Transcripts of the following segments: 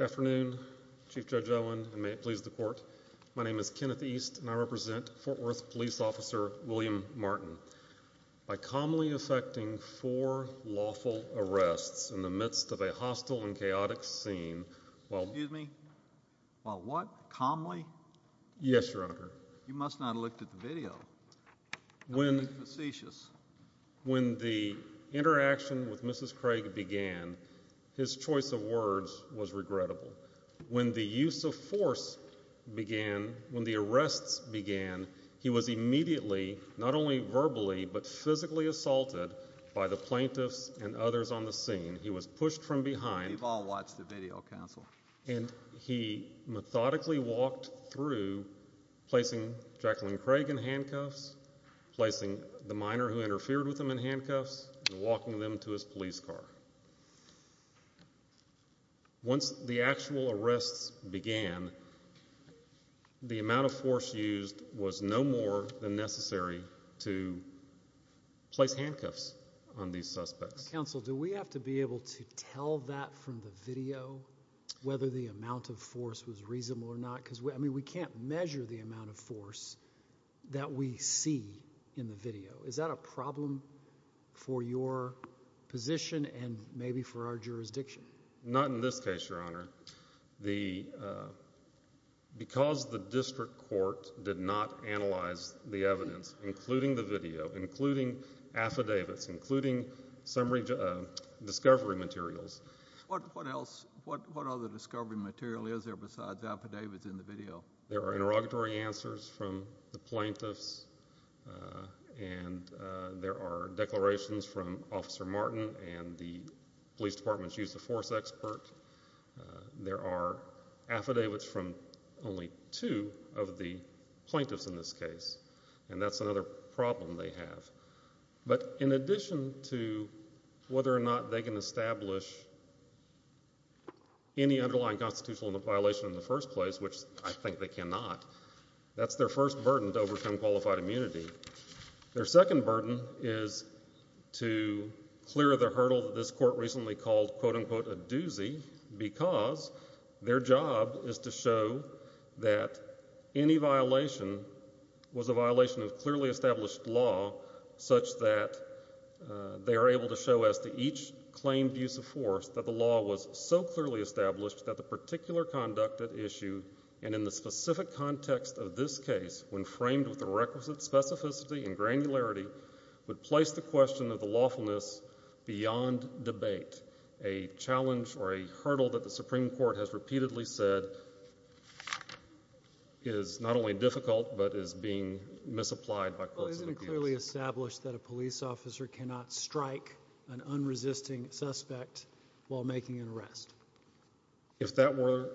Afternoon Chief Judge Owen and may it please the court. My name is Kenneth East and I represent Fort Worth Police Officer William Martin. By calmly effecting four lawful arrests in the midst of a hostile and chaotic scene, well, excuse me, well what calmly? Yes your honor. You must not have looked at the video. When, facetious. When the interaction with Mrs. Craig began, his choice of words was regrettable. When the use of force began, when the arrests began, he was immediately, not only verbally, but physically assaulted by the plaintiffs and others on the scene. He was pushed from behind. We've all watched the video counsel. And he methodically walked through, placing Jacqueline Craig in handcuffs, placing the minor who Once the actual arrests began, the amount of force used was no more than necessary to place handcuffs on these suspects. Counsel, do we have to be able to tell that from the video, whether the amount of force was reasonable or not? Because I mean, we can't measure the amount of force that we see in the video. Is that a problem for your position and maybe for our jurisdiction? Not in this case, your honor. Because the district court did not analyze the evidence, including the video, including affidavits, including some discovery materials. What else, what other discovery material is there besides affidavits in the video? There are interrogatory answers from the plaintiffs and there are declarations from Officer Martin and the police department's use of force expert. There are affidavits from only two of the plaintiffs in this case. And that's another problem they have. But in addition to whether or not they can establish any underlying constitutional violation in the first place, which I think they cannot, that's their first burden to overcome qualified immunity. Their second burden is to clear the hurdle that this court recently called, quote unquote, a doozy because their job is to show that any violation was a violation of clearly established law such that they are able to show as to each claimed use of force that the law was so clearly established that the particular conduct at issue and in the specific context of this case, when framed with the requisite specificity and granularity, would place the question of the lawfulness beyond debate, a challenge or a hurdle that the Supreme Court has repeatedly said is not only difficult but is being misapplied by courts of appeals. Well, isn't it clearly established that a police officer cannot strike an unresisting suspect while making an arrest? If that were,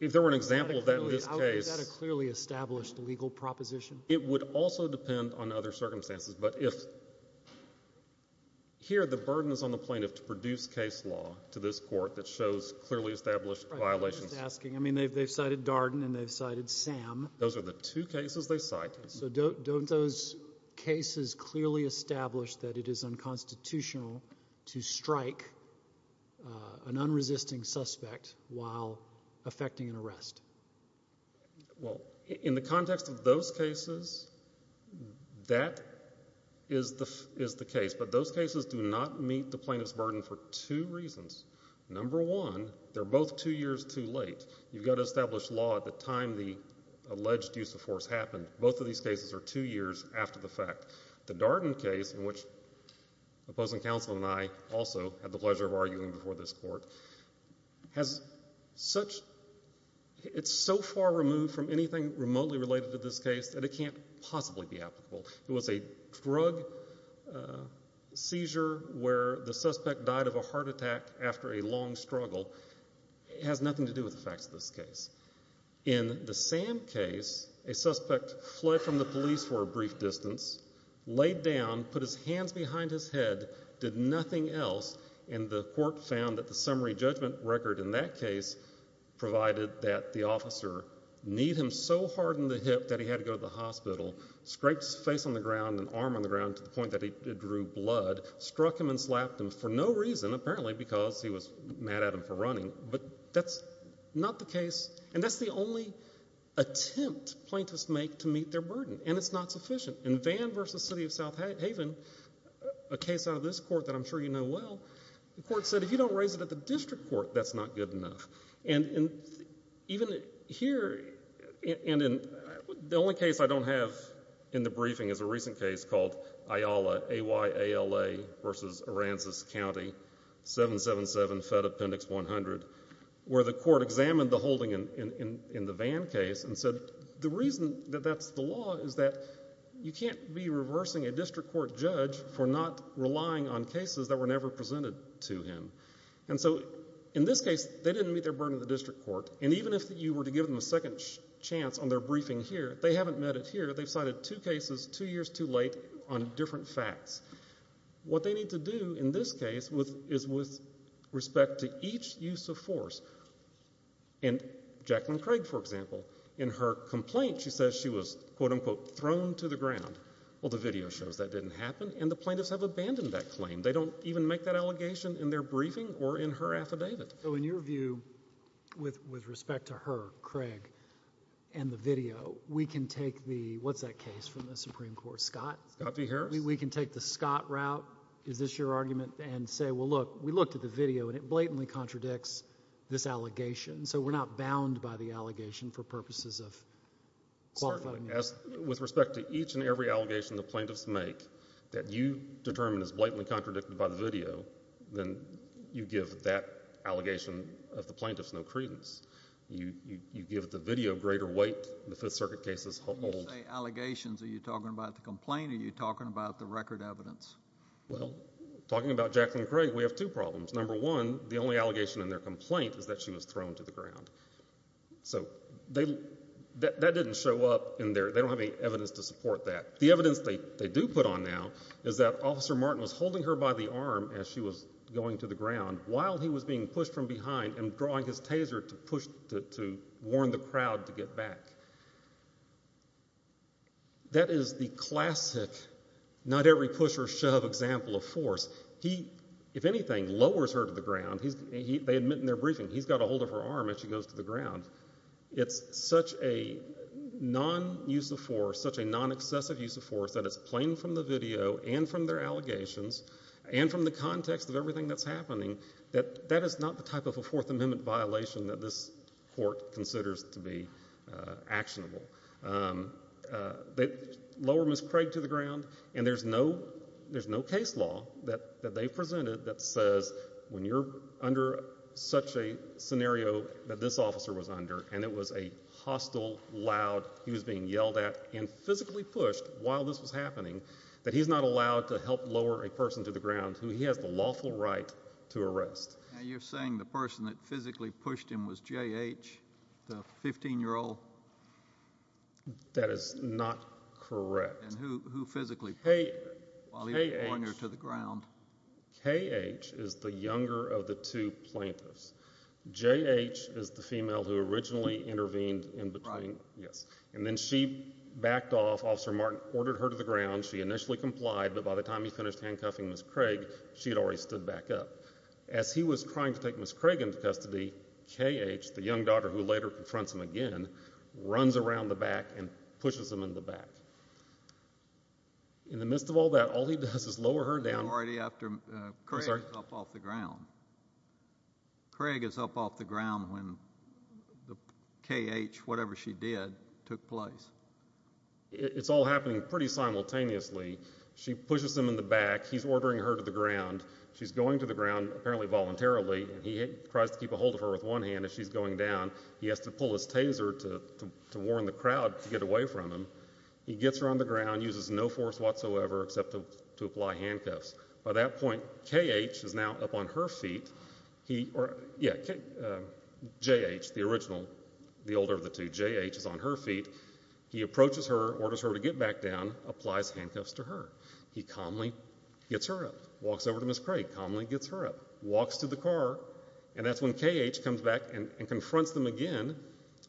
if there were an example of that in this case. Is that a clearly established legal proposition? It would also depend on other circumstances. But if here, the burden is on the plaintiff to produce case law to this court that shows clearly established violations. Right, I'm just asking. I mean, they've cited Darden and they've cited Sam. Those are the two cases they cite. So don't those cases clearly establish that it is unconstitutional to strike an unresisting suspect while affecting an arrest? Well, in the context of those cases, that is the case. But those cases do not meet the plaintiff's burden for two reasons. Number one, they're both two years too late. You've got to two years after the fact. The Darden case, in which the opposing counsel and I also had the pleasure of arguing before this court, has such, it's so far removed from anything remotely related to this case that it can't possibly be applicable. It was a drug seizure where the suspect died of a heart attack after a long struggle. It has nothing to do with the facts of this case. In the Sam case, a suspect fled from the police for a brief distance, laid down, put his hands behind his head, did nothing else, and the court found that the summary judgment record in that case provided that the officer kneed him so hard in the hip that he had to go to the hospital, scraped his face on the ground and arm on the ground to the point that it drew blood, struck him and slapped him for no reason, apparently because he was mad at him for that. That's the only attempt plaintiffs make to meet their burden, and it's not sufficient. In Vann v. City of South Haven, a case out of this court that I'm sure you know well, the court said if you don't raise it at the district court, that's not good enough. The only case I don't have in the briefing is a recent case called Ayala v. Aransas County, 777 Fed Appendix 100, where the court examined the holding in the Vann case and said the reason that that's the law is that you can't be reversing a district court judge for not relying on cases that were never presented to him. And so in this case, they didn't meet their burden in the district court, and even if you were to give them a second chance on their briefing here, they haven't met it here. They've cited two cases two years too late on different facts. What they need to do in this case is with respect to each use of force. And Jacqueline Craig, for example, in her complaint, she says she was, quote unquote, thrown to the ground. Well, the video shows that didn't happen, and the plaintiffs have abandoned that claim. They don't even make that allegation in their briefing or in her affidavit. So in your view, with respect to her, Craig, and the video, we can take the, what's that case from the Supreme Court, Scott? Scott v. Harris. We can take the Scott route. Is this your argument? And say, well, look, we looked at the video, and it blatantly contradicts this allegation. So we're not bound by the allegation for purposes of qualifying. Certainly. With respect to each and every allegation the plaintiffs make that you determine is blatantly contradicted by the video, then you give that allegation of the plaintiffs no credence. You give the video greater weight. The Fifth Circuit case is old. When you say record evidence. Well, talking about Jacqueline Craig, we have two problems. Number one, the only allegation in their complaint is that she was thrown to the ground. So that didn't show up in their, they don't have any evidence to support that. The evidence they do put on now is that Officer Martin was holding her by the arm as she was going to the ground while he was being pushed from behind and drawing his taser to push, to warn the crowd to get back. That is the classic, not every push or shove example of force. He, if anything, lowers her to the ground. They admit in their briefing, he's got a hold of her arm as she goes to the ground. It's such a non-use of force, such a non-excessive use of force that it's plain from the video and from their allegations and from the context of everything that's happening that that is not the Fourth Amendment violation that this court considers to be actionable. They lower Ms. Craig to the ground and there's no, there's no case law that they've presented that says when you're under such a scenario that this officer was under and it was a hostile, loud, he was being yelled at and physically pushed while this was happening, that he's not allowed to help lower a person to the ground who he has the lawful right to arrest. Now, you're saying the person that physically pushed him was J.H., the 15-year-old? That is not correct. And who physically pushed him while he was pointing her to the ground? K.H. is the younger of the two plaintiffs. J.H. is the female who originally intervened in between, yes, and then she backed off. Officer Martin ordered her to the ground. She initially complied, but by the time he finished handcuffing Ms. Craig, she had already stood back up. As he was trying to take Ms. Craig into custody, K.H., the young daughter who later confronts him again, runs around the back and pushes him in the back. In the midst of all that, all he does is lower her down. Already after Craig is up off the ground. Craig is up off the ground when the K.H., whatever she did, took place. It's all happening pretty simultaneously. She pushes him in the back. He's ordering her to the ground. She's going to the ground, apparently voluntarily, and he tries to keep a hold of her with one hand as she's going down. He has to pull his taser to warn the crowd to get away from him. He gets her on the ground, uses no force whatsoever except to apply handcuffs. By that point, K.H. is now up on her feet. J.H., the original, the older of the two. J.H. is on her feet. He approaches her, orders her to get back down, applies handcuffs to her. He calmly gets her up. Walks over to Ms. Craig, calmly gets her up. Walks to the car, and that's when K.H. comes back and confronts them again.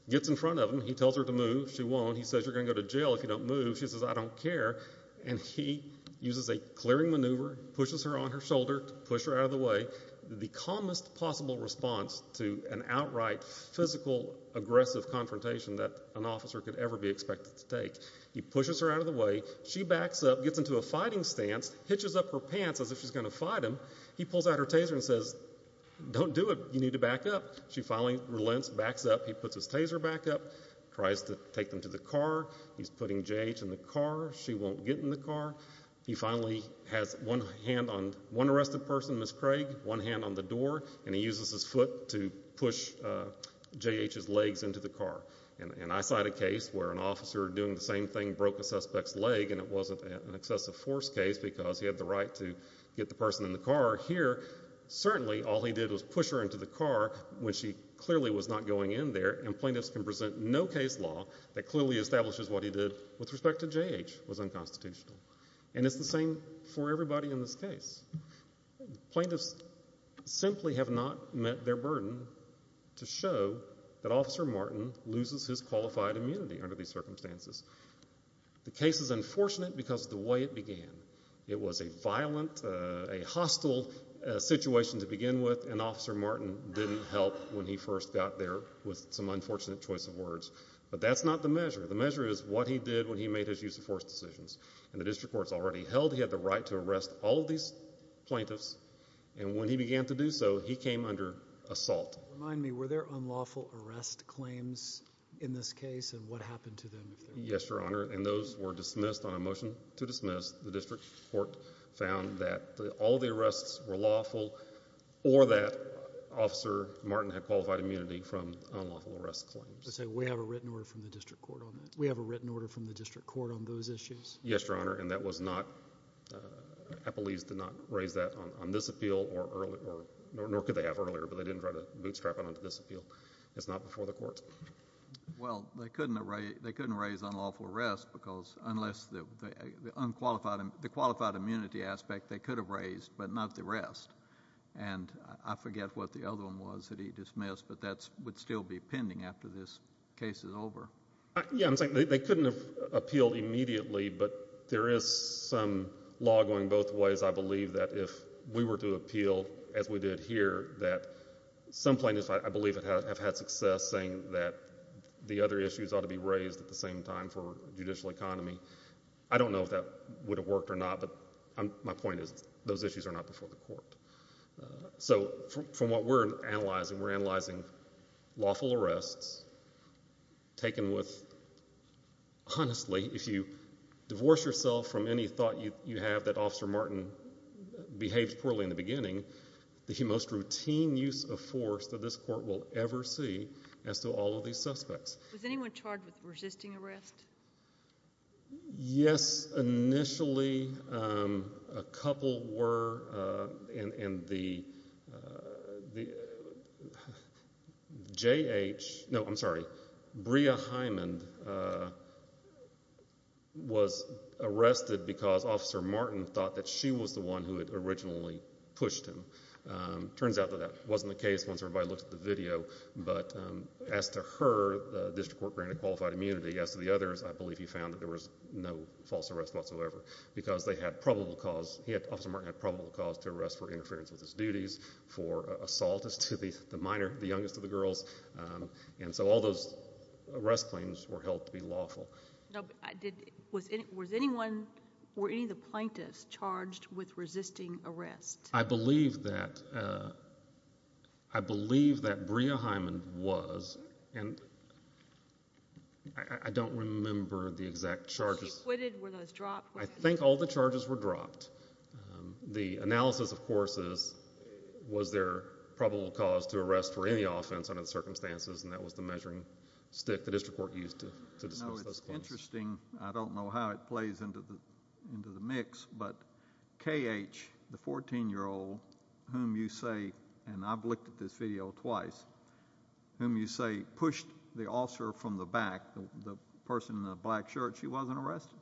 Gets in front of him. He tells her to move. She won't. He says, you're going to go to jail if you don't move. She says, I don't care. And he uses a clearing maneuver, pushes her on her shoulder, pushed her out of the way. The calmest possible response to an outright physical aggressive confrontation that an officer could ever be expected to take. He pushes her out of the way. She backs up, gets into a fighting stance, hitches up her pants as if she's going to fight him. He pulls out her taser and says, don't do it. You need to back up. She finally relents, backs up. He puts his taser back up, tries to take them to the car. He's putting J.H. in the car. She won't get in the car. He finally has one hand on one arrested person, Ms. Craig, one hand on the door, and he uses his foot to push J.H.'s legs into the car. And I cite a case where an officer doing the same thing broke a suspect's leg, and it wasn't an excessive force case because he had the right to get the person in the car. Here, certainly, all he did was push her into the car when she clearly was not going in there. And plaintiffs can present no case law that clearly establishes what he did with respect to J.H. was unconstitutional. And it's the same for everybody in this case. Plaintiffs simply have not met their burden to show that Officer Martin loses his qualified immunity under these circumstances. The case is unfortunate because of the way it began. It was a violent, a hostile situation to begin with, and Officer Martin didn't help when he first got there with some unfortunate choice of words. But that's not the measure. The measure is what he did when he made his use of force decisions. And the district court's already held he had the plaintiffs, and when he began to do so, he came under assault. Remind me, were there unlawful arrest claims in this case, and what happened to them? Yes, Your Honor, and those were dismissed on a motion to dismiss. The district court found that all the arrests were lawful or that Officer Martin had qualified immunity from unlawful arrest claims. So, say, we have a written order from the district court on that? We have a written order from the district court on those issues? Yes, Your Honor, and that was not, I believe, did not raise that on this appeal, nor could they have earlier, but they didn't try to bootstrap it onto this appeal. It's not before the courts. Well, they couldn't raise unlawful arrest because unless the qualified immunity aspect, they could have raised, but not the rest. And I forget what the other one was that he dismissed, but that would still be pending after this case is over. Yes, they couldn't have appealed immediately, but there is some law going both ways, I believe, that if we were to appeal as we did here, that some plaintiffs, I believe, have had success saying that the other issues ought to be raised at the same time for judicial economy. I don't know if that would have worked or not, but my point is those issues are not before the court. So from what we're analyzing, we're analyzing lawful arrests taken with, honestly, if you divorce yourself from any thought you have that Officer Martin behaved poorly in the beginning, the most routine use of force that this court will ever see as to all of these suspects. Was anyone charged with resisting arrest? Yes, initially, a couple were, and the J.H., no, I'm sorry, Bria Hyman was arrested because Officer Martin thought that she was the one who had originally pushed him. Turns out that that wasn't the case once everybody looked at the video, but as to her, the district court granted qualified immunity. As to the others, I believe he found that there was no false arrest whatsoever because they had probable cause, he had, Officer Martin had probable cause to arrest for interference with his duties, for assault as to the minor, the youngest of the girls, and so all those arrest claims were held to be lawful. Was anyone, were any of the plaintiffs charged with resisting arrest? I believe that, I believe that Bria Hyman was, and I don't remember the exact charges. Was she acquitted? Were those dropped? I think all the charges were dropped. The analysis, of course, is was there probable cause to arrest for any offense under the circumstances, and that was the measuring I don't know how it plays into the mix, but K.H., the 14-year-old, whom you say, and I've looked at this video twice, whom you say pushed the officer from the back, the person in the black shirt, she wasn't arrested?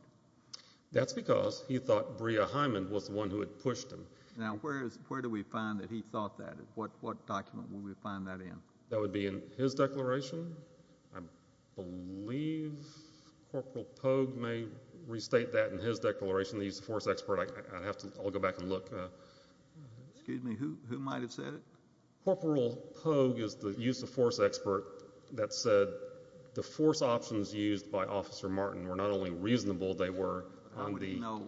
That's because he thought Bria Hyman was the one who had pushed him. Now, where do we find that he thought that? What document would we find that in? That would be in his declaration. I believe Corporal Pogue may restate that in his declaration, the use of force expert. I have to, I'll go back and look. Excuse me, who, who might have said it? Corporal Pogue is the use of force expert that said the force options used by Officer Martin were not only reasonable, they were on the... No,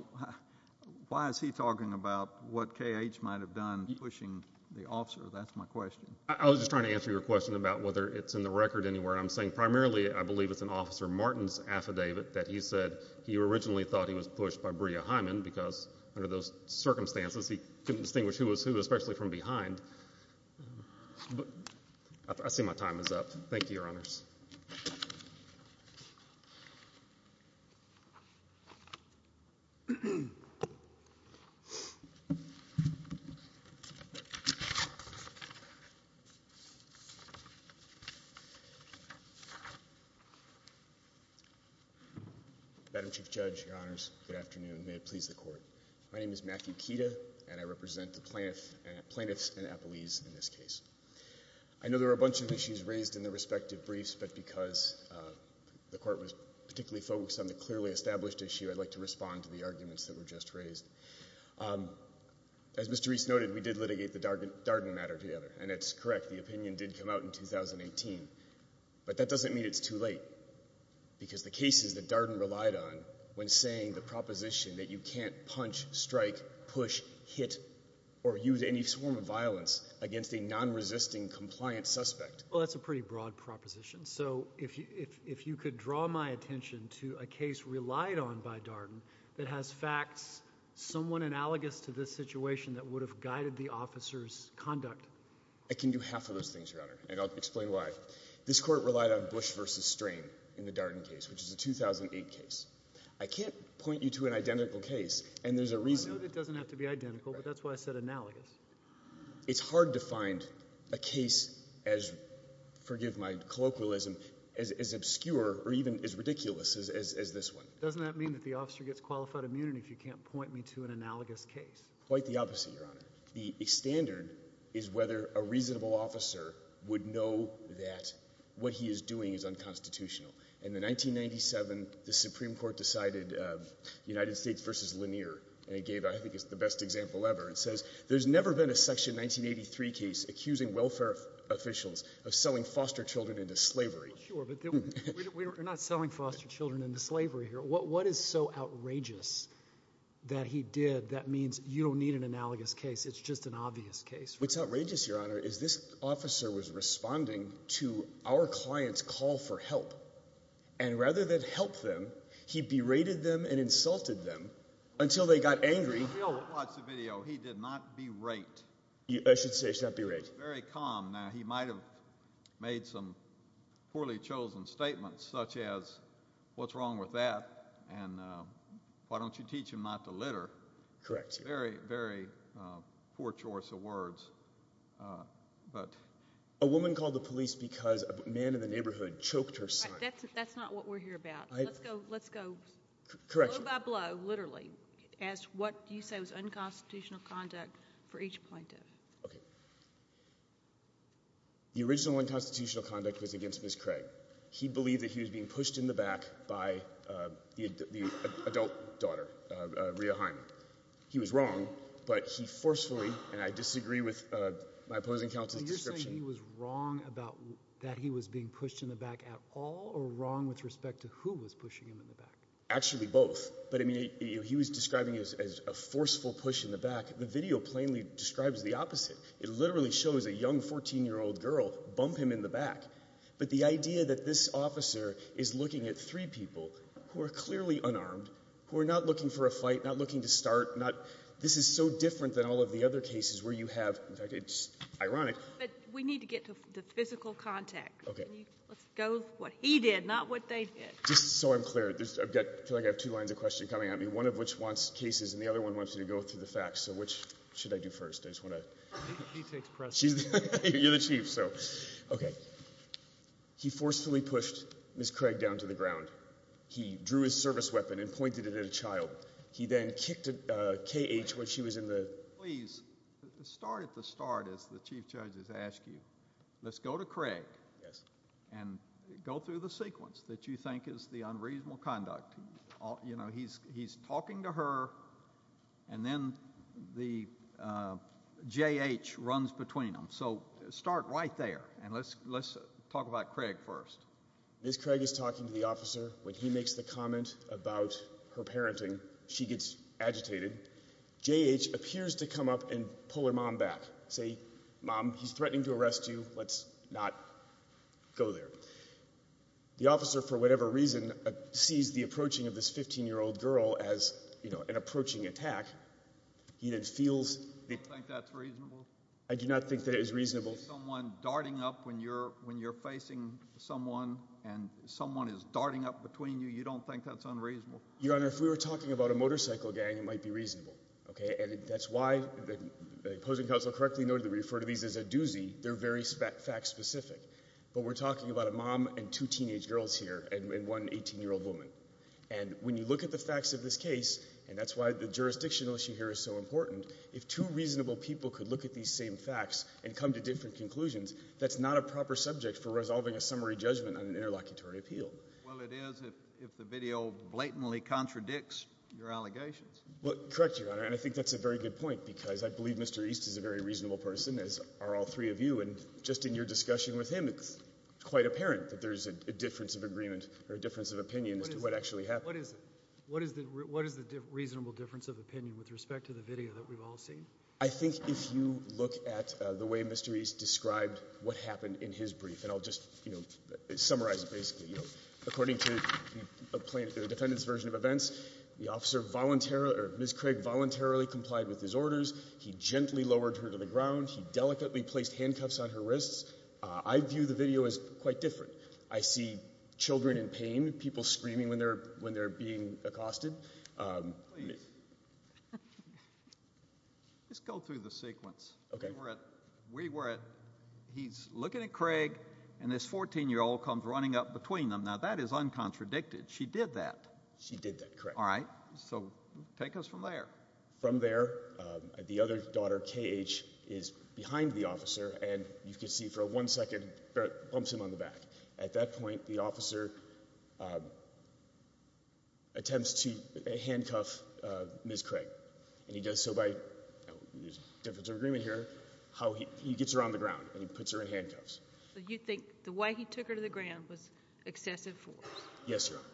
why is he talking about what K.H. might have done pushing the officer? That's my question. I was just trying to answer your question about whether it's in the record anywhere. I'm saying primarily, I believe it's in Officer Martin's affidavit that he said he originally thought he was pushed by Bria Hyman because under those circumstances, he couldn't distinguish who was who, especially from behind. I see my time is up. Thank you, Your Honors. Madam Chief Judge, Your Honors, good afternoon. May it please the Court. My name is Matthew Kida, and I represent the Plaintiffs and Appellees in this case. I know there were a bunch of issues raised in the respective briefs, but because the Court was particularly focused on the clearly established issue, I'd like to respond to the arguments that were just raised. As Mr. Reese noted, we did litigate the Darden matter together, and it's correct, the opinion did come out in 2018, but that doesn't mean it's too late, because the cases that Darden relied on when saying the proposition that you can't punch, strike, push, hit, or use any form of violence against a non-resisting compliant suspect... Well, that's a pretty broad proposition, so if you could draw my attention to a case relied on by Darden that has facts somewhat analogous to this situation that would have guided the officer's conduct. I can do half of those things, Your Honor, and I'll explain why. This Court relied on Bush v. Strain in the Darden case, which is a 2008 case. I can't point you to an identical case, and there's a reason... I know it doesn't have to be identical, but that's why I said analogous. It's hard to find a case as, forgive my colloquialism, as obscure or even as ridiculous as this one. Doesn't that mean that the officer gets qualified immunity if you can't point me to an analogous case? Quite the opposite, Your Honor. The standard is whether a reasonable officer would know that what he is doing is unconstitutional. In 1997, the Supreme Court decided United States v. Lanier, and it gave, I think it's the best example ever. It says, there's never been a Section 1983 case accusing welfare officials of selling foster children into slavery. Sure, but we're not selling foster children into slavery here. What is so outrageous that he did, that means you don't need an analogous case. It's just an obvious case. What's outrageous, Your Honor, is this officer was responding to our client's call for help, and rather than help them, he berated them and insulted them until they got angry. If you all watch the video, he did not berate. I should say he should not berate. Very calm. Now, he might have made some poorly chosen statements, such as, what's wrong with that? Why don't you teach him not to litter? Very, very poor choice of words. A woman called the police because a man in the neighborhood choked her son. That's not what we're here about. Let's go blow by blow, literally, as to what you say was unconstitutional conduct for each plaintiff. The original unconstitutional conduct was against Ms. Craig. He believed that he was being pushed in the back by the adult daughter, Rhea Hyman. He was wrong, but he forcefully, and I disagree with my opposing counsel's description. So you're saying he was wrong about that he was being pushed in the back at all, or wrong with respect to who was pushing him in the back? Actually, both. But I mean, he was describing it as a forceful push in the back. The video plainly describes the opposite. It literally shows a young 14-year-old girl bump him in the back. But the idea that this officer is looking at three people who are clearly unarmed, who are not looking for a fight, not looking to start, this is so different than all of the other cases where you have, in fact, it's ironic. But we need to get to the physical context. Okay. Let's go with what he did, not what they did. Just so I'm clear, I feel like I have two lines of question coming at me, one of which wants cases and the other one wants you to go through the facts. So which should I do first? I just want to... He takes precedence. You're the chief, so... Okay. He forcefully pushed Ms. Craig down to the ground. He drew his service weapon and pointed it at a child. He then kicked K.H. when she was in the... Please, start at the start as the chief judge has asked you. Let's go to Craig. Yes. And go through the sequence that you think is the unreasonable conduct. You know, he's talking to her and then the J.H. runs between them. So start right there. And let's talk about Craig first. Ms. Craig is talking to the officer. When he makes the comment about her parenting, she gets agitated. J.H. appears to come up and pull her mom back, say, Mom, he's threatening to arrest you. Let's not go there. The officer, for whatever reason, sees the approaching of this 15-year-old girl as, you know, an approaching attack. He then feels... You think that's reasonable? I do not think that it is reasonable. Someone darting up when you're facing someone and someone is darting up between you, you don't think that's unreasonable? Your Honor, if we were talking about a motorcycle gang, it might be reasonable, okay? And that's why the opposing counsel correctly noted that we refer to these as a doozy. They're very fact-specific. But we're talking about a mom and two teenage girls here and one 18-year-old woman. And when you look at the facts of this case, and that's why the jurisdictional issue here is so important, if two reasonable people could look at these same facts and come to different conclusions, that's not a proper subject for resolving a summary judgment on an interlocutory appeal. Well, it is if the video blatantly contradicts your allegations. Well, correct, Your Honor. And I think that's a very good point because I believe Mr. East is a very reasonable person, as are all three of you. And just in your discussion with him, it's quite apparent that there's a difference of agreement or a difference of opinion as to what actually happened. What is it? What is the reasonable difference of opinion with respect to the video that we've all seen? I think if you look at the way Mr. East described what happened in his brief, and I'll just, you know, summarize it basically, you know, according to the defendant's version of events, the officer voluntarily or Ms. Craig voluntarily complied with his request. He lowered her to the ground. He delicately placed handcuffs on her wrists. I view the video as quite different. I see children in pain, people screaming when they're being accosted. Please, just go through the sequence. Okay. We were at, he's looking at Craig, and this 14-year-old comes running up between them. Now, that is uncontradicted. She did that. She did that, correct. All right. So take us from there. From there, the other daughter, K.H., is behind the officer, and you can see for one second bumps him on the back. At that point, the officer attempts to handcuff Ms. Craig. And he does so by, there's a difference of agreement here, how he gets her on the ground, and he puts her in handcuffs. So you think the way he took her to the ground was excessive force? Yes, Your Honor.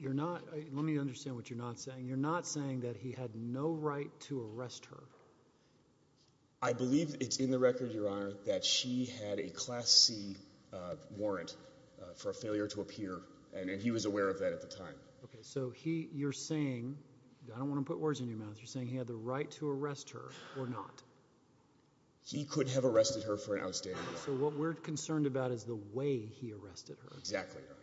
You're not, let me understand what you're not saying. You're not saying that he had no right to arrest her? I believe it's in the record, Your Honor, that she had a Class C warrant for a failure to appear, and he was aware of that at the time. Okay. So he, you're saying, I don't want to put words in your mouth, you're saying he had the right to arrest her or not? He could have arrested her for an outstanding reason. So what we're concerned about is the way he arrested her. Exactly, Your Honor.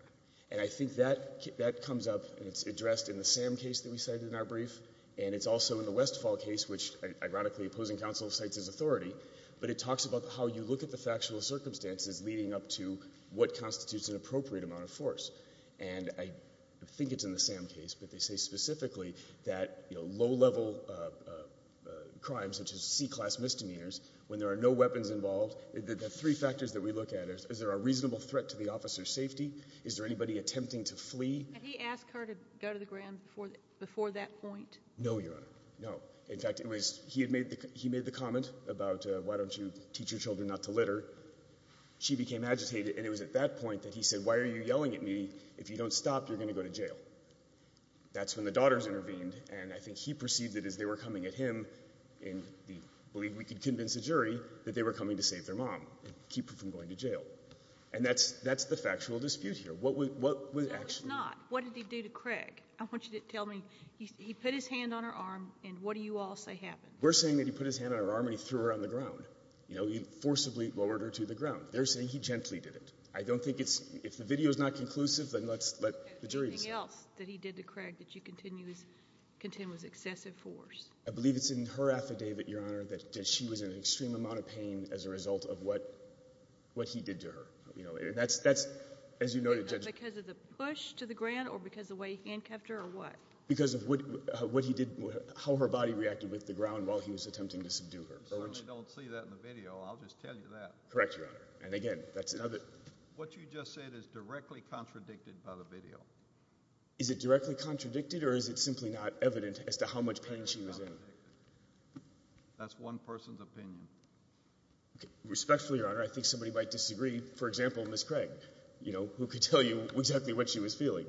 And I think that comes up, and it's addressed in the Sam case that we cited in our brief, and it's also in the Westfall case, which, ironically, opposing counsel cites as authority, but it talks about how you look at the factual circumstances leading up to what constitutes an appropriate amount of force. And I think it's in the Sam case, but they say specifically that low-level crimes such as C-Class misdemeanors, when there are no weapons involved, the three factors that we look at, is there a reasonable threat to the officer's safety? Is there anybody attempting to flee? Can he ask her to go to the grounds before that point? No, Your Honor. No. In fact, he had made the comment about, why don't you teach your children not to litter? She became agitated, and it was at that point that he said, why are you yelling at me? If you don't stop, you're going to go to jail. That's when the daughters intervened, and I think he perceived it as they were coming at him, and he believed we could convince the jury that they were coming to save their daughter from going to jail. And that's the factual dispute here. What was actually — No, it's not. What did he do to Craig? I want you to tell me. He put his hand on her arm, and what do you all say happened? We're saying that he put his hand on her arm and he threw her on the ground. You know, he forcibly lowered her to the ground. They're saying he gently did it. I don't think it's — if the video is not conclusive, then let's let the jury — Anything else that he did to Craig that you contend was excessive force? I believe it's in her affidavit, Your Honor, that she was in an extreme amount of pain as a result of what he did to her. You know, that's — as you noted, Judge — Because of the push to the ground, or because of the way he hand-kept her, or what? Because of what he did — how her body reacted with the ground while he was attempting to subdue her. You certainly don't see that in the video. I'll just tell you that. Correct, Your Honor. And again, that's in her affidavit. What you just said is directly contradicted by the video. Is it directly contradicted, or is it simply not evident as to how much pain she was in? That's one person's opinion. Respectfully, Your Honor, I think somebody might disagree. For example, Ms. Craig, you know, who could tell you exactly what she was feeling.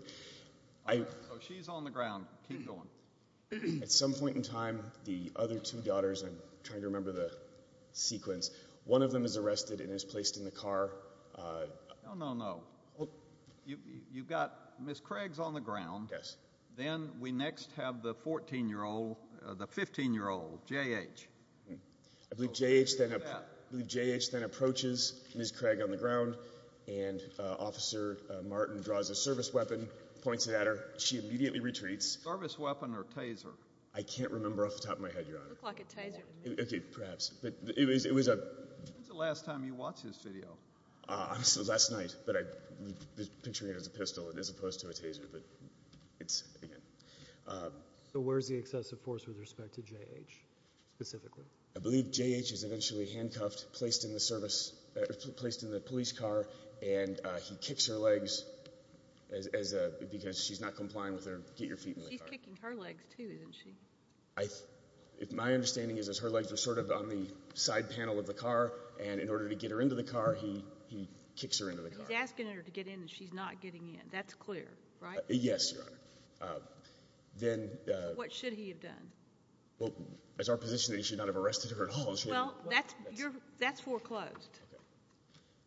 I — So she's on the ground. Keep going. At some point in time, the other two daughters — I'm trying to remember the sequence — one of them is arrested and is placed in the car. No, no, no. You've got — Ms. Craig's on the ground. Yes. Then we next have the 14-year-old — the 15-year-old, J.H. I believe J.H. then approaches Ms. Craig on the ground, and Officer Martin draws a service weapon, points it at her. She immediately retreats. Service weapon or taser? I can't remember off the top of my head, Your Honor. It looked like a taser to me. Okay, perhaps. But it was — When's the last time you watched this video? Last night. But I'm picturing it as a pistol as opposed to a taser. But it's — again. So where's the excessive force with respect to J.H. specifically? I believe J.H. is eventually handcuffed, placed in the service — placed in the police car, and he kicks her legs as a — because she's not complying with her get-your-feet-in-the-car. He's kicking her legs, too, isn't she? My understanding is that her legs are sort of on the side panel of the car, and in order to get her into the car, he kicks her into the car. He's asking her to get in, and she's not getting in. That's clear, right? Yes, Your Honor. Then — What should he have done? Well, it's our position that he should not have arrested her at all. Well, that's — that's foreclosed. Okay.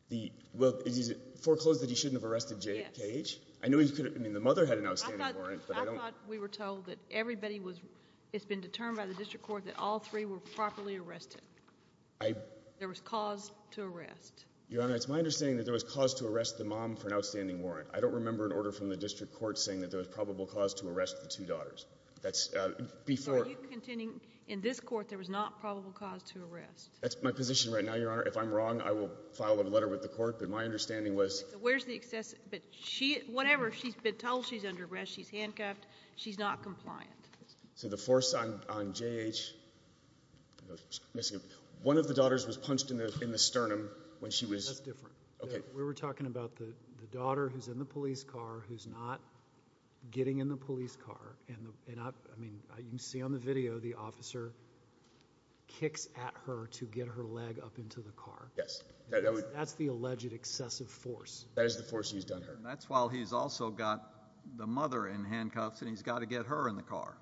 The — well, is it foreclosed that he shouldn't have arrested J.H.? Yes. I knew he could have — I mean, the mother had an outstanding warrant, but I don't — I thought we were told that everybody was — it's been determined by the district court that all three were properly arrested. I — There was cause to arrest. Your Honor, it's my understanding that there was cause to arrest the mom for an outstanding warrant. I don't remember an order from the district court saying that there was probable cause to arrest the two daughters. That's — before — So are you contending in this court there was not probable cause to arrest? That's my position right now, Your Honor. If I'm wrong, I will file a letter with the court, but my understanding was — So where's the — but she — whatever, she's been told she's under arrest. She's handcuffed. She's not compliant. So the force on J.H. — I'm missing — one of the daughters was punched in the sternum when she was — That's different. Okay. We were talking about the daughter who's in the police car who's not getting in the police car, and I mean, you can see on the video the officer kicks at her to get her leg up into the car. Yes. That's the alleged excessive force. That is the force. He's done her. That's while he's also got the mother in handcuffs, and he's got to get her in the car.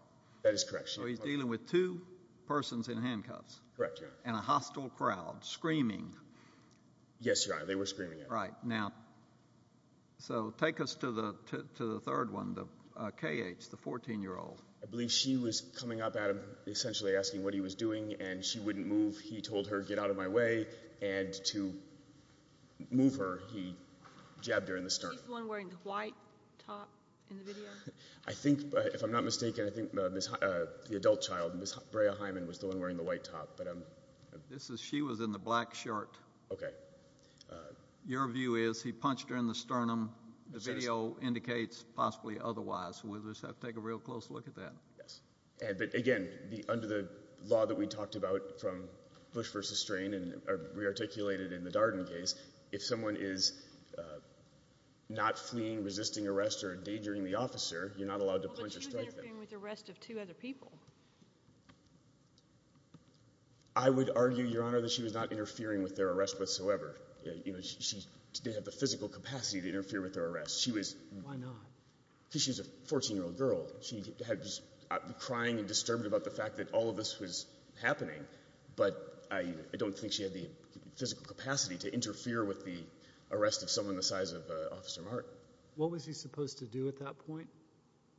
That is correct. So he's dealing with two persons in handcuffs. Correct, Your Honor. And a hostile crowd screaming. Yes, Your Honor, they were screaming at her. Now, so take us to the third one, the K.H., the 14-year-old. I believe she was coming up at him, essentially asking what he was doing, and she wouldn't move. He told her, get out of my way. And to move her, he jabbed her in the sternum. She's the one wearing the white top in the video? I think, if I'm not mistaken, I think the adult child, Ms. Brea Hyman, was the one wearing the white top, but I'm — This is — she was in the black shirt. Okay. But your view is he punched her in the sternum. The video indicates possibly otherwise. So we'll just have to take a real close look at that. Yes, but again, under the law that we talked about from Bush v. Strain, and rearticulated in the Darden case, if someone is not fleeing, resisting arrest, or endangering the officer, you're not allowed to punch or strike them. But she was interfering with the arrest of two other people. I would argue, Your Honor, that she was not interfering with their arrest whatsoever. You know, she didn't have the physical capacity to interfere with their arrest. She was — Why not? Because she was a 14-year-old girl. She was crying and disturbed about the fact that all of this was happening. But I don't think she had the physical capacity to interfere with the arrest of someone the size of Officer Martin. What was he supposed to do at that point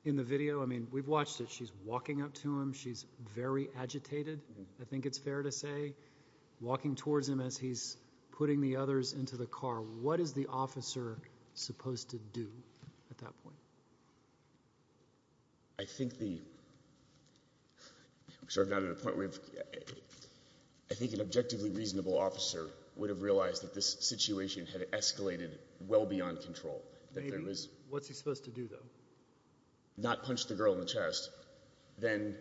in the video? I mean, we've watched it. She's walking up to him. She's very agitated, I think it's fair to say, walking towards him as he's putting the others into the car. What is the officer supposed to do at that point? I think the — I'm sorry, I'm not at a point where we've — I think an objectively reasonable officer would have realized that this situation had escalated well beyond control. I mean, what's he supposed to do, though? Not punch the girl in the chest. Then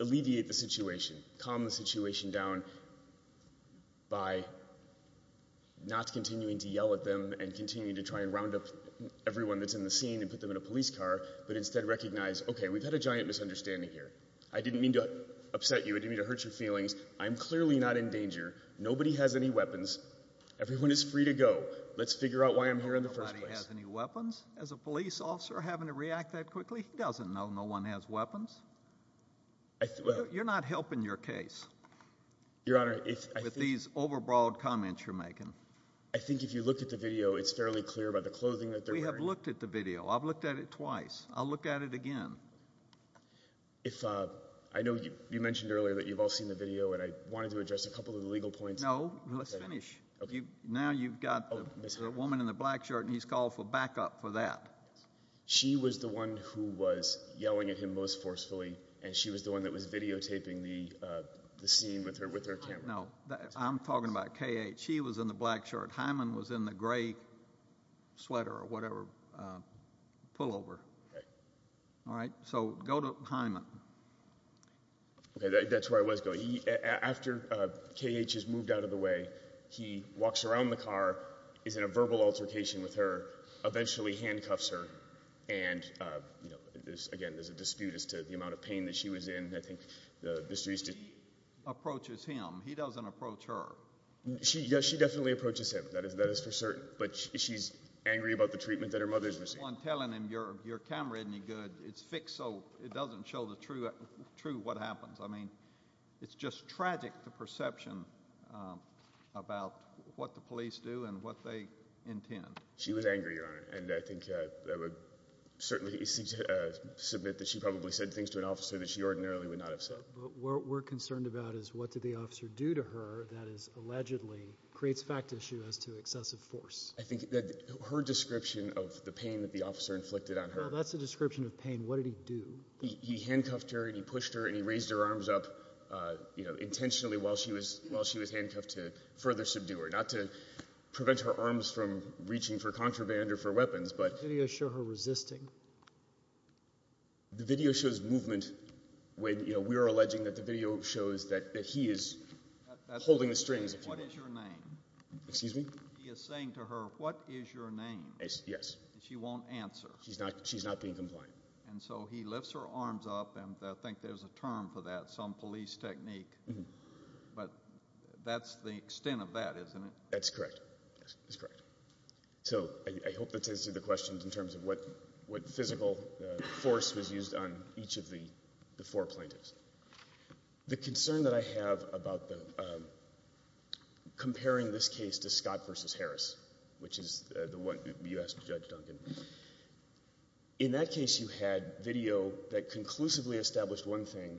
alleviate the situation, calm the situation down by not continuing to yell at them and continuing to try and round up everyone that's in the scene and put them in a police car, but instead recognize, OK, we've had a giant misunderstanding here. I didn't mean to upset you. I didn't mean to hurt your feelings. I'm clearly not in danger. Nobody has any weapons. Everyone is free to go. Let's figure out why I'm here in the first place. Nobody has any weapons? As a police officer, having to react that quickly? He doesn't know no one has weapons. You're not helping your case. Your Honor, if — With these overbroad comments you're making. I think if you looked at the video, it's fairly clear about the clothing that they're wearing. We have looked at the video. I've looked at it twice. I'll look at it again. If — I know you mentioned earlier that you've all seen the video, and I wanted to address a couple of the legal points. No, let's finish. Now you've got the woman in the black shirt, and he's called for backup for that. She was the one who was yelling at him most forcefully, and she was the one that was videotaping the scene with her camera. No, I'm talking about K.H. She was in the black shirt. Hyman was in the gray sweater or whatever — pullover. All right? So go to Hyman. Okay, that's where I was going. After K.H. is moved out of the way, he walks around the car, is in a verbal altercation with her, eventually handcuffs her, and, you know, again, there's a dispute as to the amount of pain that she was in. I think the history is — She approaches him. He doesn't approach her. She — yeah, she definitely approaches him. That is for certain. But she's angry about the treatment that her mother's received. She's the one telling him, your camera isn't any good. It's fixed, so it doesn't show the true what happens. I mean, it's just tragic, the perception. About what the police do and what they intend. She was angry, Your Honor, and I think I would certainly submit that she probably said things to an officer that she ordinarily would not have said. But what we're concerned about is what did the officer do to her that is allegedly — creates fact issue as to excessive force. I think that her description of the pain that the officer inflicted on her — Well, that's a description of pain. What did he do? He handcuffed her and he pushed her and he raised her arms up, you know, intentionally while she was handcuffed to further subdue her. Not to prevent her arms from reaching for contraband or for weapons, but — Did the video show her resisting? The video shows movement when, you know, we are alleging that the video shows that he is holding the strings — What is your name? Excuse me? He is saying to her, what is your name? Yes. She won't answer. She's not being compliant. And so he lifts her arms up and I think there's a term for that. Some police technique. But that's the extent of that, isn't it? That's correct. So I hope that answers the question in terms of what physical force was used on each of the four plaintiffs. The concern that I have about comparing this case to Scott v. Harris, which is the one you asked Judge Duncan, in that case you had video that conclusively established one thing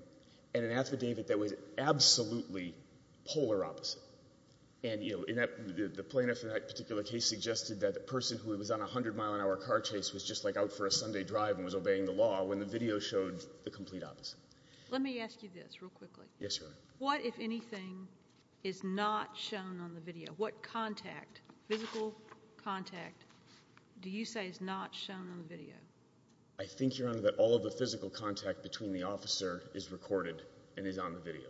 and an affidavit that was absolutely polar opposite. And, you know, the plaintiff in that particular case suggested that the person who was on a 100-mile-an-hour car chase was just like out for a Sunday drive and was obeying the law when the video showed the complete opposite. Let me ask you this real quickly. Yes, Your Honor. What, if anything, is not shown on the video? What contact, physical contact, do you say is not shown on the video? I think, Your Honor, that all of the physical contact between the officer is recorded and is on the video.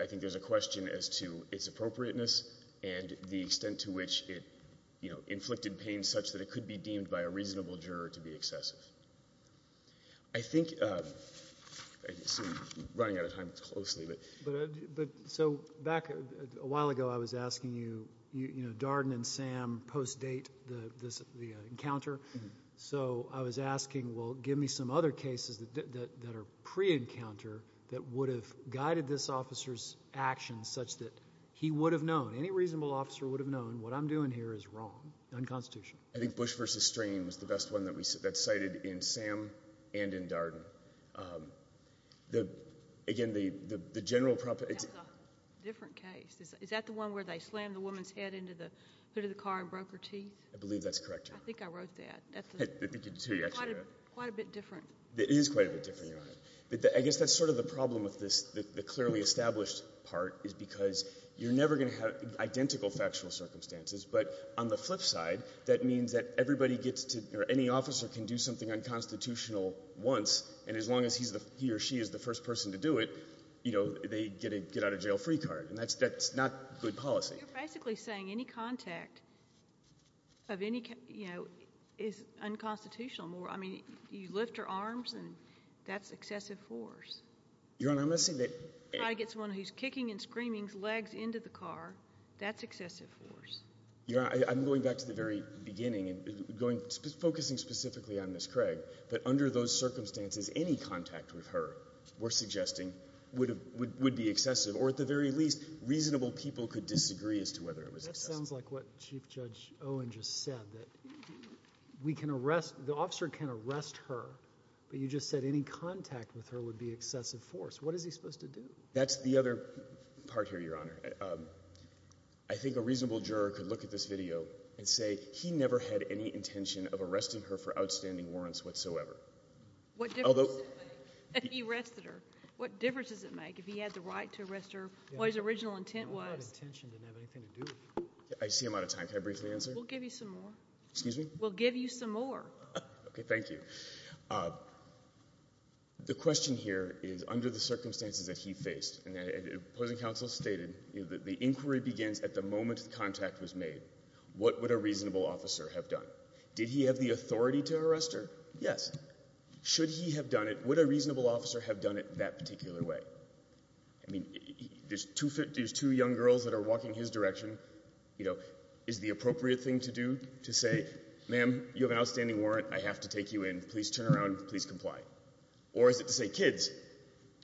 I think there's a question as to its appropriateness and the extent to which it, you know, inflicted pain such that it could be deemed by a reasonable juror to be excessive. I think, I'm running out of time, it's closely, but... So back a while ago I was asking you, you know, Darden and Sam post-date the encounter. So I was asking, well, give me some other cases that are pre-encounter that would have guided this officer's actions such that he would have known, any reasonable officer would have known what I'm doing here is wrong, unconstitutional. I think Bush v. Strain was the best one that we, that's cited in Sam and in Darden. Again, the general... That's a different case. Is that the one where they slammed the woman's head into the car and broke her teeth? I believe that's correct, Your Honor. I think I wrote that. Quite a bit different. It is quite a bit different, Your Honor. I guess that's sort of the problem with this, the clearly established part, is because you're never going to have identical factual circumstances. But on the flip side, that means that everybody gets to, or any officer can do something unconstitutional once, and as long as he or she is the first person to do it, you know, they get out of jail free card. And that's not good policy. You're basically saying any contact of any, you know, is unconstitutional more. I mean, you lift her arms and that's excessive force. Your Honor, I'm not saying that... Try to get someone who's kicking and screaming's legs into the car, that's excessive force. Your Honor, I'm going back to the very beginning and going, focusing specifically on Ms. Craig, but under those circumstances, any contact with her, we're suggesting, would be excessive, or at the very least, reasonable people could disagree as to whether it was excessive. That sounds like what Chief Judge Owen just said, that we can arrest, the officer can arrest her, but you just said any contact with her would be excessive force. What is he supposed to do? That's the other part here, Your Honor. I think a reasonable juror could look at this video and say, he never had any intention of arresting her for outstanding warrants whatsoever. What difference does it make that he arrested her? What difference does it make if he had the right to arrest her, what his original intent was? That intention didn't have anything to do with it. I see I'm out of time, can I briefly answer? We'll give you some more. Excuse me? We'll give you some more. Okay, thank you. The question here is, under the circumstances that he faced, and the opposing counsel stated, the inquiry begins at the moment the contact was made. What would a reasonable officer have done? Did he have the authority to arrest her? Yes. Should he have done it? Would a reasonable officer have done it that particular way? I mean, there's two young girls that are walking his direction. You know, is the appropriate thing to do to say, ma'am, you have an outstanding warrant. I have to take you in. Please turn around. Please comply. Or is it to say, kids,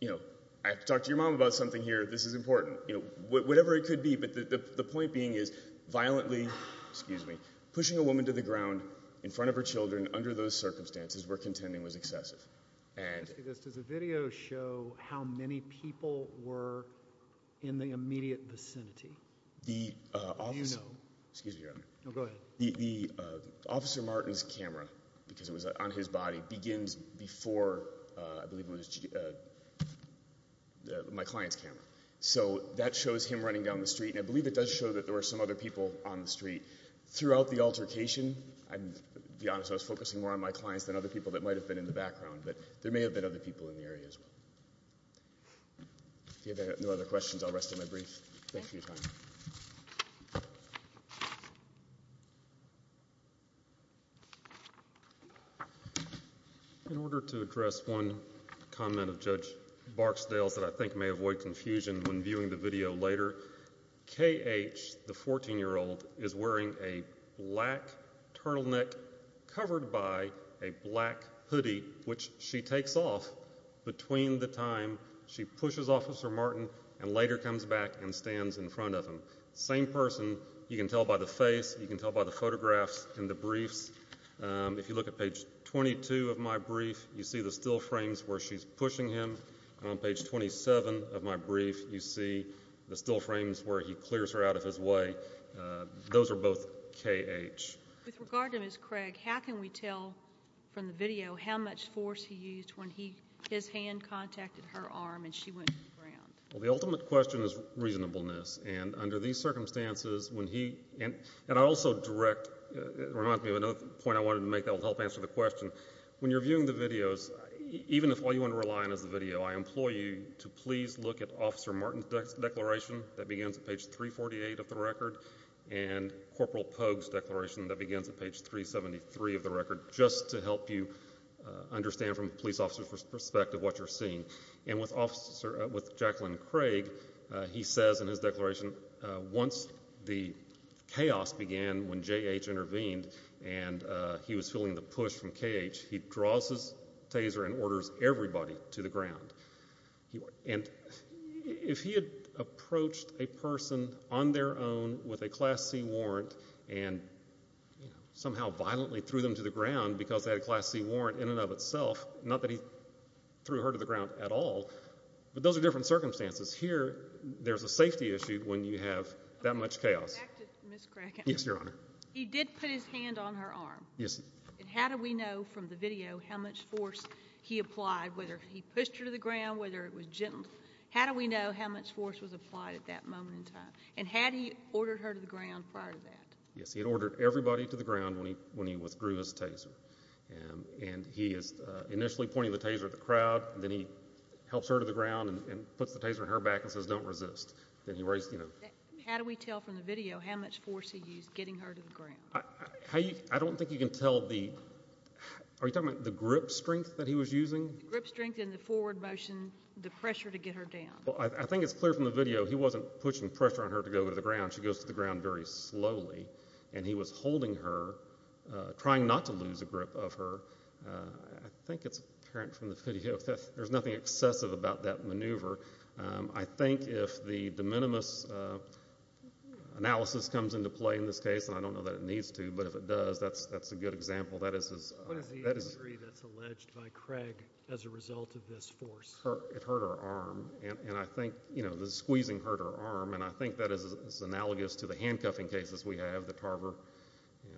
you know, I have to talk to your mom about something here. This is important. You know, whatever it could be. But the point being is violently, excuse me, pushing a woman to the ground in front of her where contending was excessive. Does the video show how many people were in the immediate vicinity? The officer, excuse me, Your Honor. No, go ahead. The officer Martin's camera, because it was on his body, begins before, I believe it was my client's camera. So that shows him running down the street. And I believe it does show that there were some other people on the street. Throughout the altercation, I'll be honest, I was focusing more on my clients than other people that might have been in the background. But there may have been other people in the area as well. If you have no other questions, I'll rest my brief. Thank you for your time. In order to address one comment of Judge Barksdale's that I think may avoid confusion when Black Hoodie, which she takes off between the time she pushes Officer Martin and later comes back and stands in front of him. Same person. You can tell by the face. You can tell by the photographs in the briefs. If you look at page 22 of my brief, you see the still frames where she's pushing him. And on page 27 of my brief, you see the still frames where he clears her out of his way. Those are both KH. With regard to Ms. Craig, how can we tell from the video how much force he used when he, his hand contacted her arm and she went to the ground? Well, the ultimate question is reasonableness. And under these circumstances, when he, and I also direct, it reminds me of another point I wanted to make that will help answer the question. When you're viewing the videos, even if all you want to rely on is the video, I implore you to please look at Officer Martin's declaration that begins at page 348 of the record and Corporal Pogue's declaration that begins at page 373 of the record, just to help you understand from a police officer's perspective what you're seeing. And with Jacqueline Craig, he says in his declaration, once the chaos began when JH intervened and he was feeling the push from KH, he draws his taser and orders everybody to the ground. And if he had approached a person on their own with a Class C warrant and somehow violently threw them to the ground because they had a Class C warrant in and of itself, not that he threw her to the ground at all, but those are different circumstances. Here, there's a safety issue when you have that much chaos. Back to Ms. Craig. Yes, Your Honor. He did put his hand on her arm. Yes. And how do we know from the video how much force he applied, whether he pushed her to the ground, whether it was gentle? How do we know how much force was applied at that moment in time? And had he ordered her to the ground prior to that? Yes, he had ordered everybody to the ground when he withdrew his taser. And he is initially pointing the taser at the crowd, then he helps her to the ground and puts the taser on her back and says, don't resist. Then he raised, you know. How do we tell from the video how much force he used getting her to the ground? I don't think you can tell the, are you talking about the grip strength that he was using? Grip strength and the forward motion, the pressure to get her down. Well, I think it's clear from the video he wasn't pushing pressure on her to go to the ground. She goes to the ground very slowly. And he was holding her, trying not to lose a grip of her. I think it's apparent from the video that there's nothing excessive about that maneuver. I think if the de minimis analysis comes into play in this case, and I don't know that it needs to, but if it does, that's a good example. What is the degree that's alleged by Craig as a result of this force? It hurt her arm. And I think, you know, the squeezing hurt her arm. And I think that is analogous to the handcuffing cases we have, the Tarver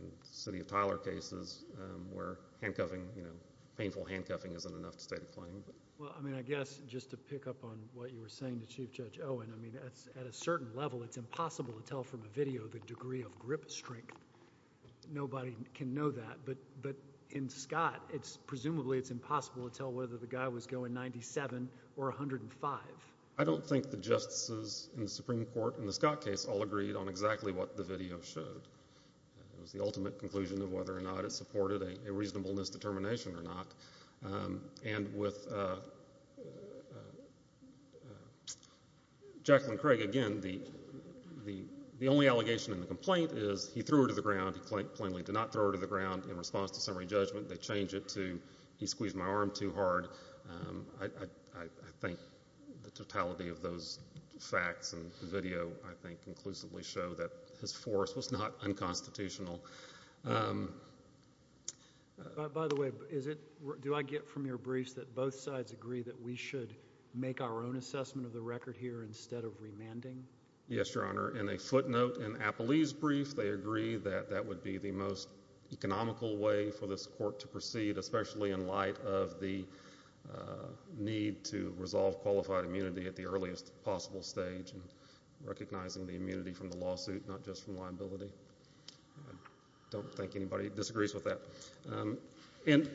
and City of Tyler cases where handcuffing, you know, painful handcuffing isn't enough to state a claim. Well, I mean, I guess just to pick up on what you were saying to Chief Judge Owen, I mean, at a certain level, it's impossible to tell from a video the degree of grip strength. Nobody can know that. But in Scott, it's presumably it's impossible to tell whether the guy was going 97 or 105. I don't think the justices in the Supreme Court in the Scott case all agreed on exactly what the video showed. It was the ultimate conclusion of whether or not it supported a reasonableness determination or not. And with Jacqueline Craig, again, the only allegation in the complaint is he threw her to the ground. He plainly did not throw her to the ground in response to summary judgment. They change it to he squeezed my arm too hard. I think the totality of those facts and the video, I think, conclusively show that his force was not unconstitutional. By the way, do I get from your briefs that both sides agree that we should make our own assessment of the record here instead of remanding? Yes, Your Honor. In a footnote in Apolli's brief, they agree that that would be the most economical way for this court to proceed, especially in light of the need to resolve qualified immunity at the earliest possible stage and recognizing the immunity from the lawsuit, not just from liability. I don't think anybody disagrees with that. And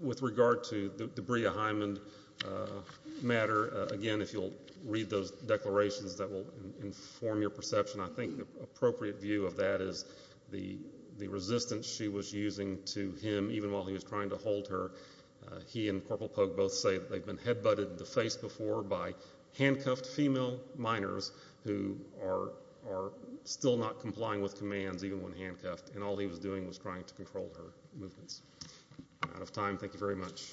with regard to the Brea Hyman matter, again, if you'll read those declarations, that will inform your perception. I think the appropriate view of that is the resistance she was using to him even while he was trying to hold her. He and Corporal Pogue both say that they've been headbutted in the face before by handcuffed female minors who are still not complying with commands, even when handcuffed, and all he was doing was trying to control her movements. I'm out of time. Thank you very much. Thank you.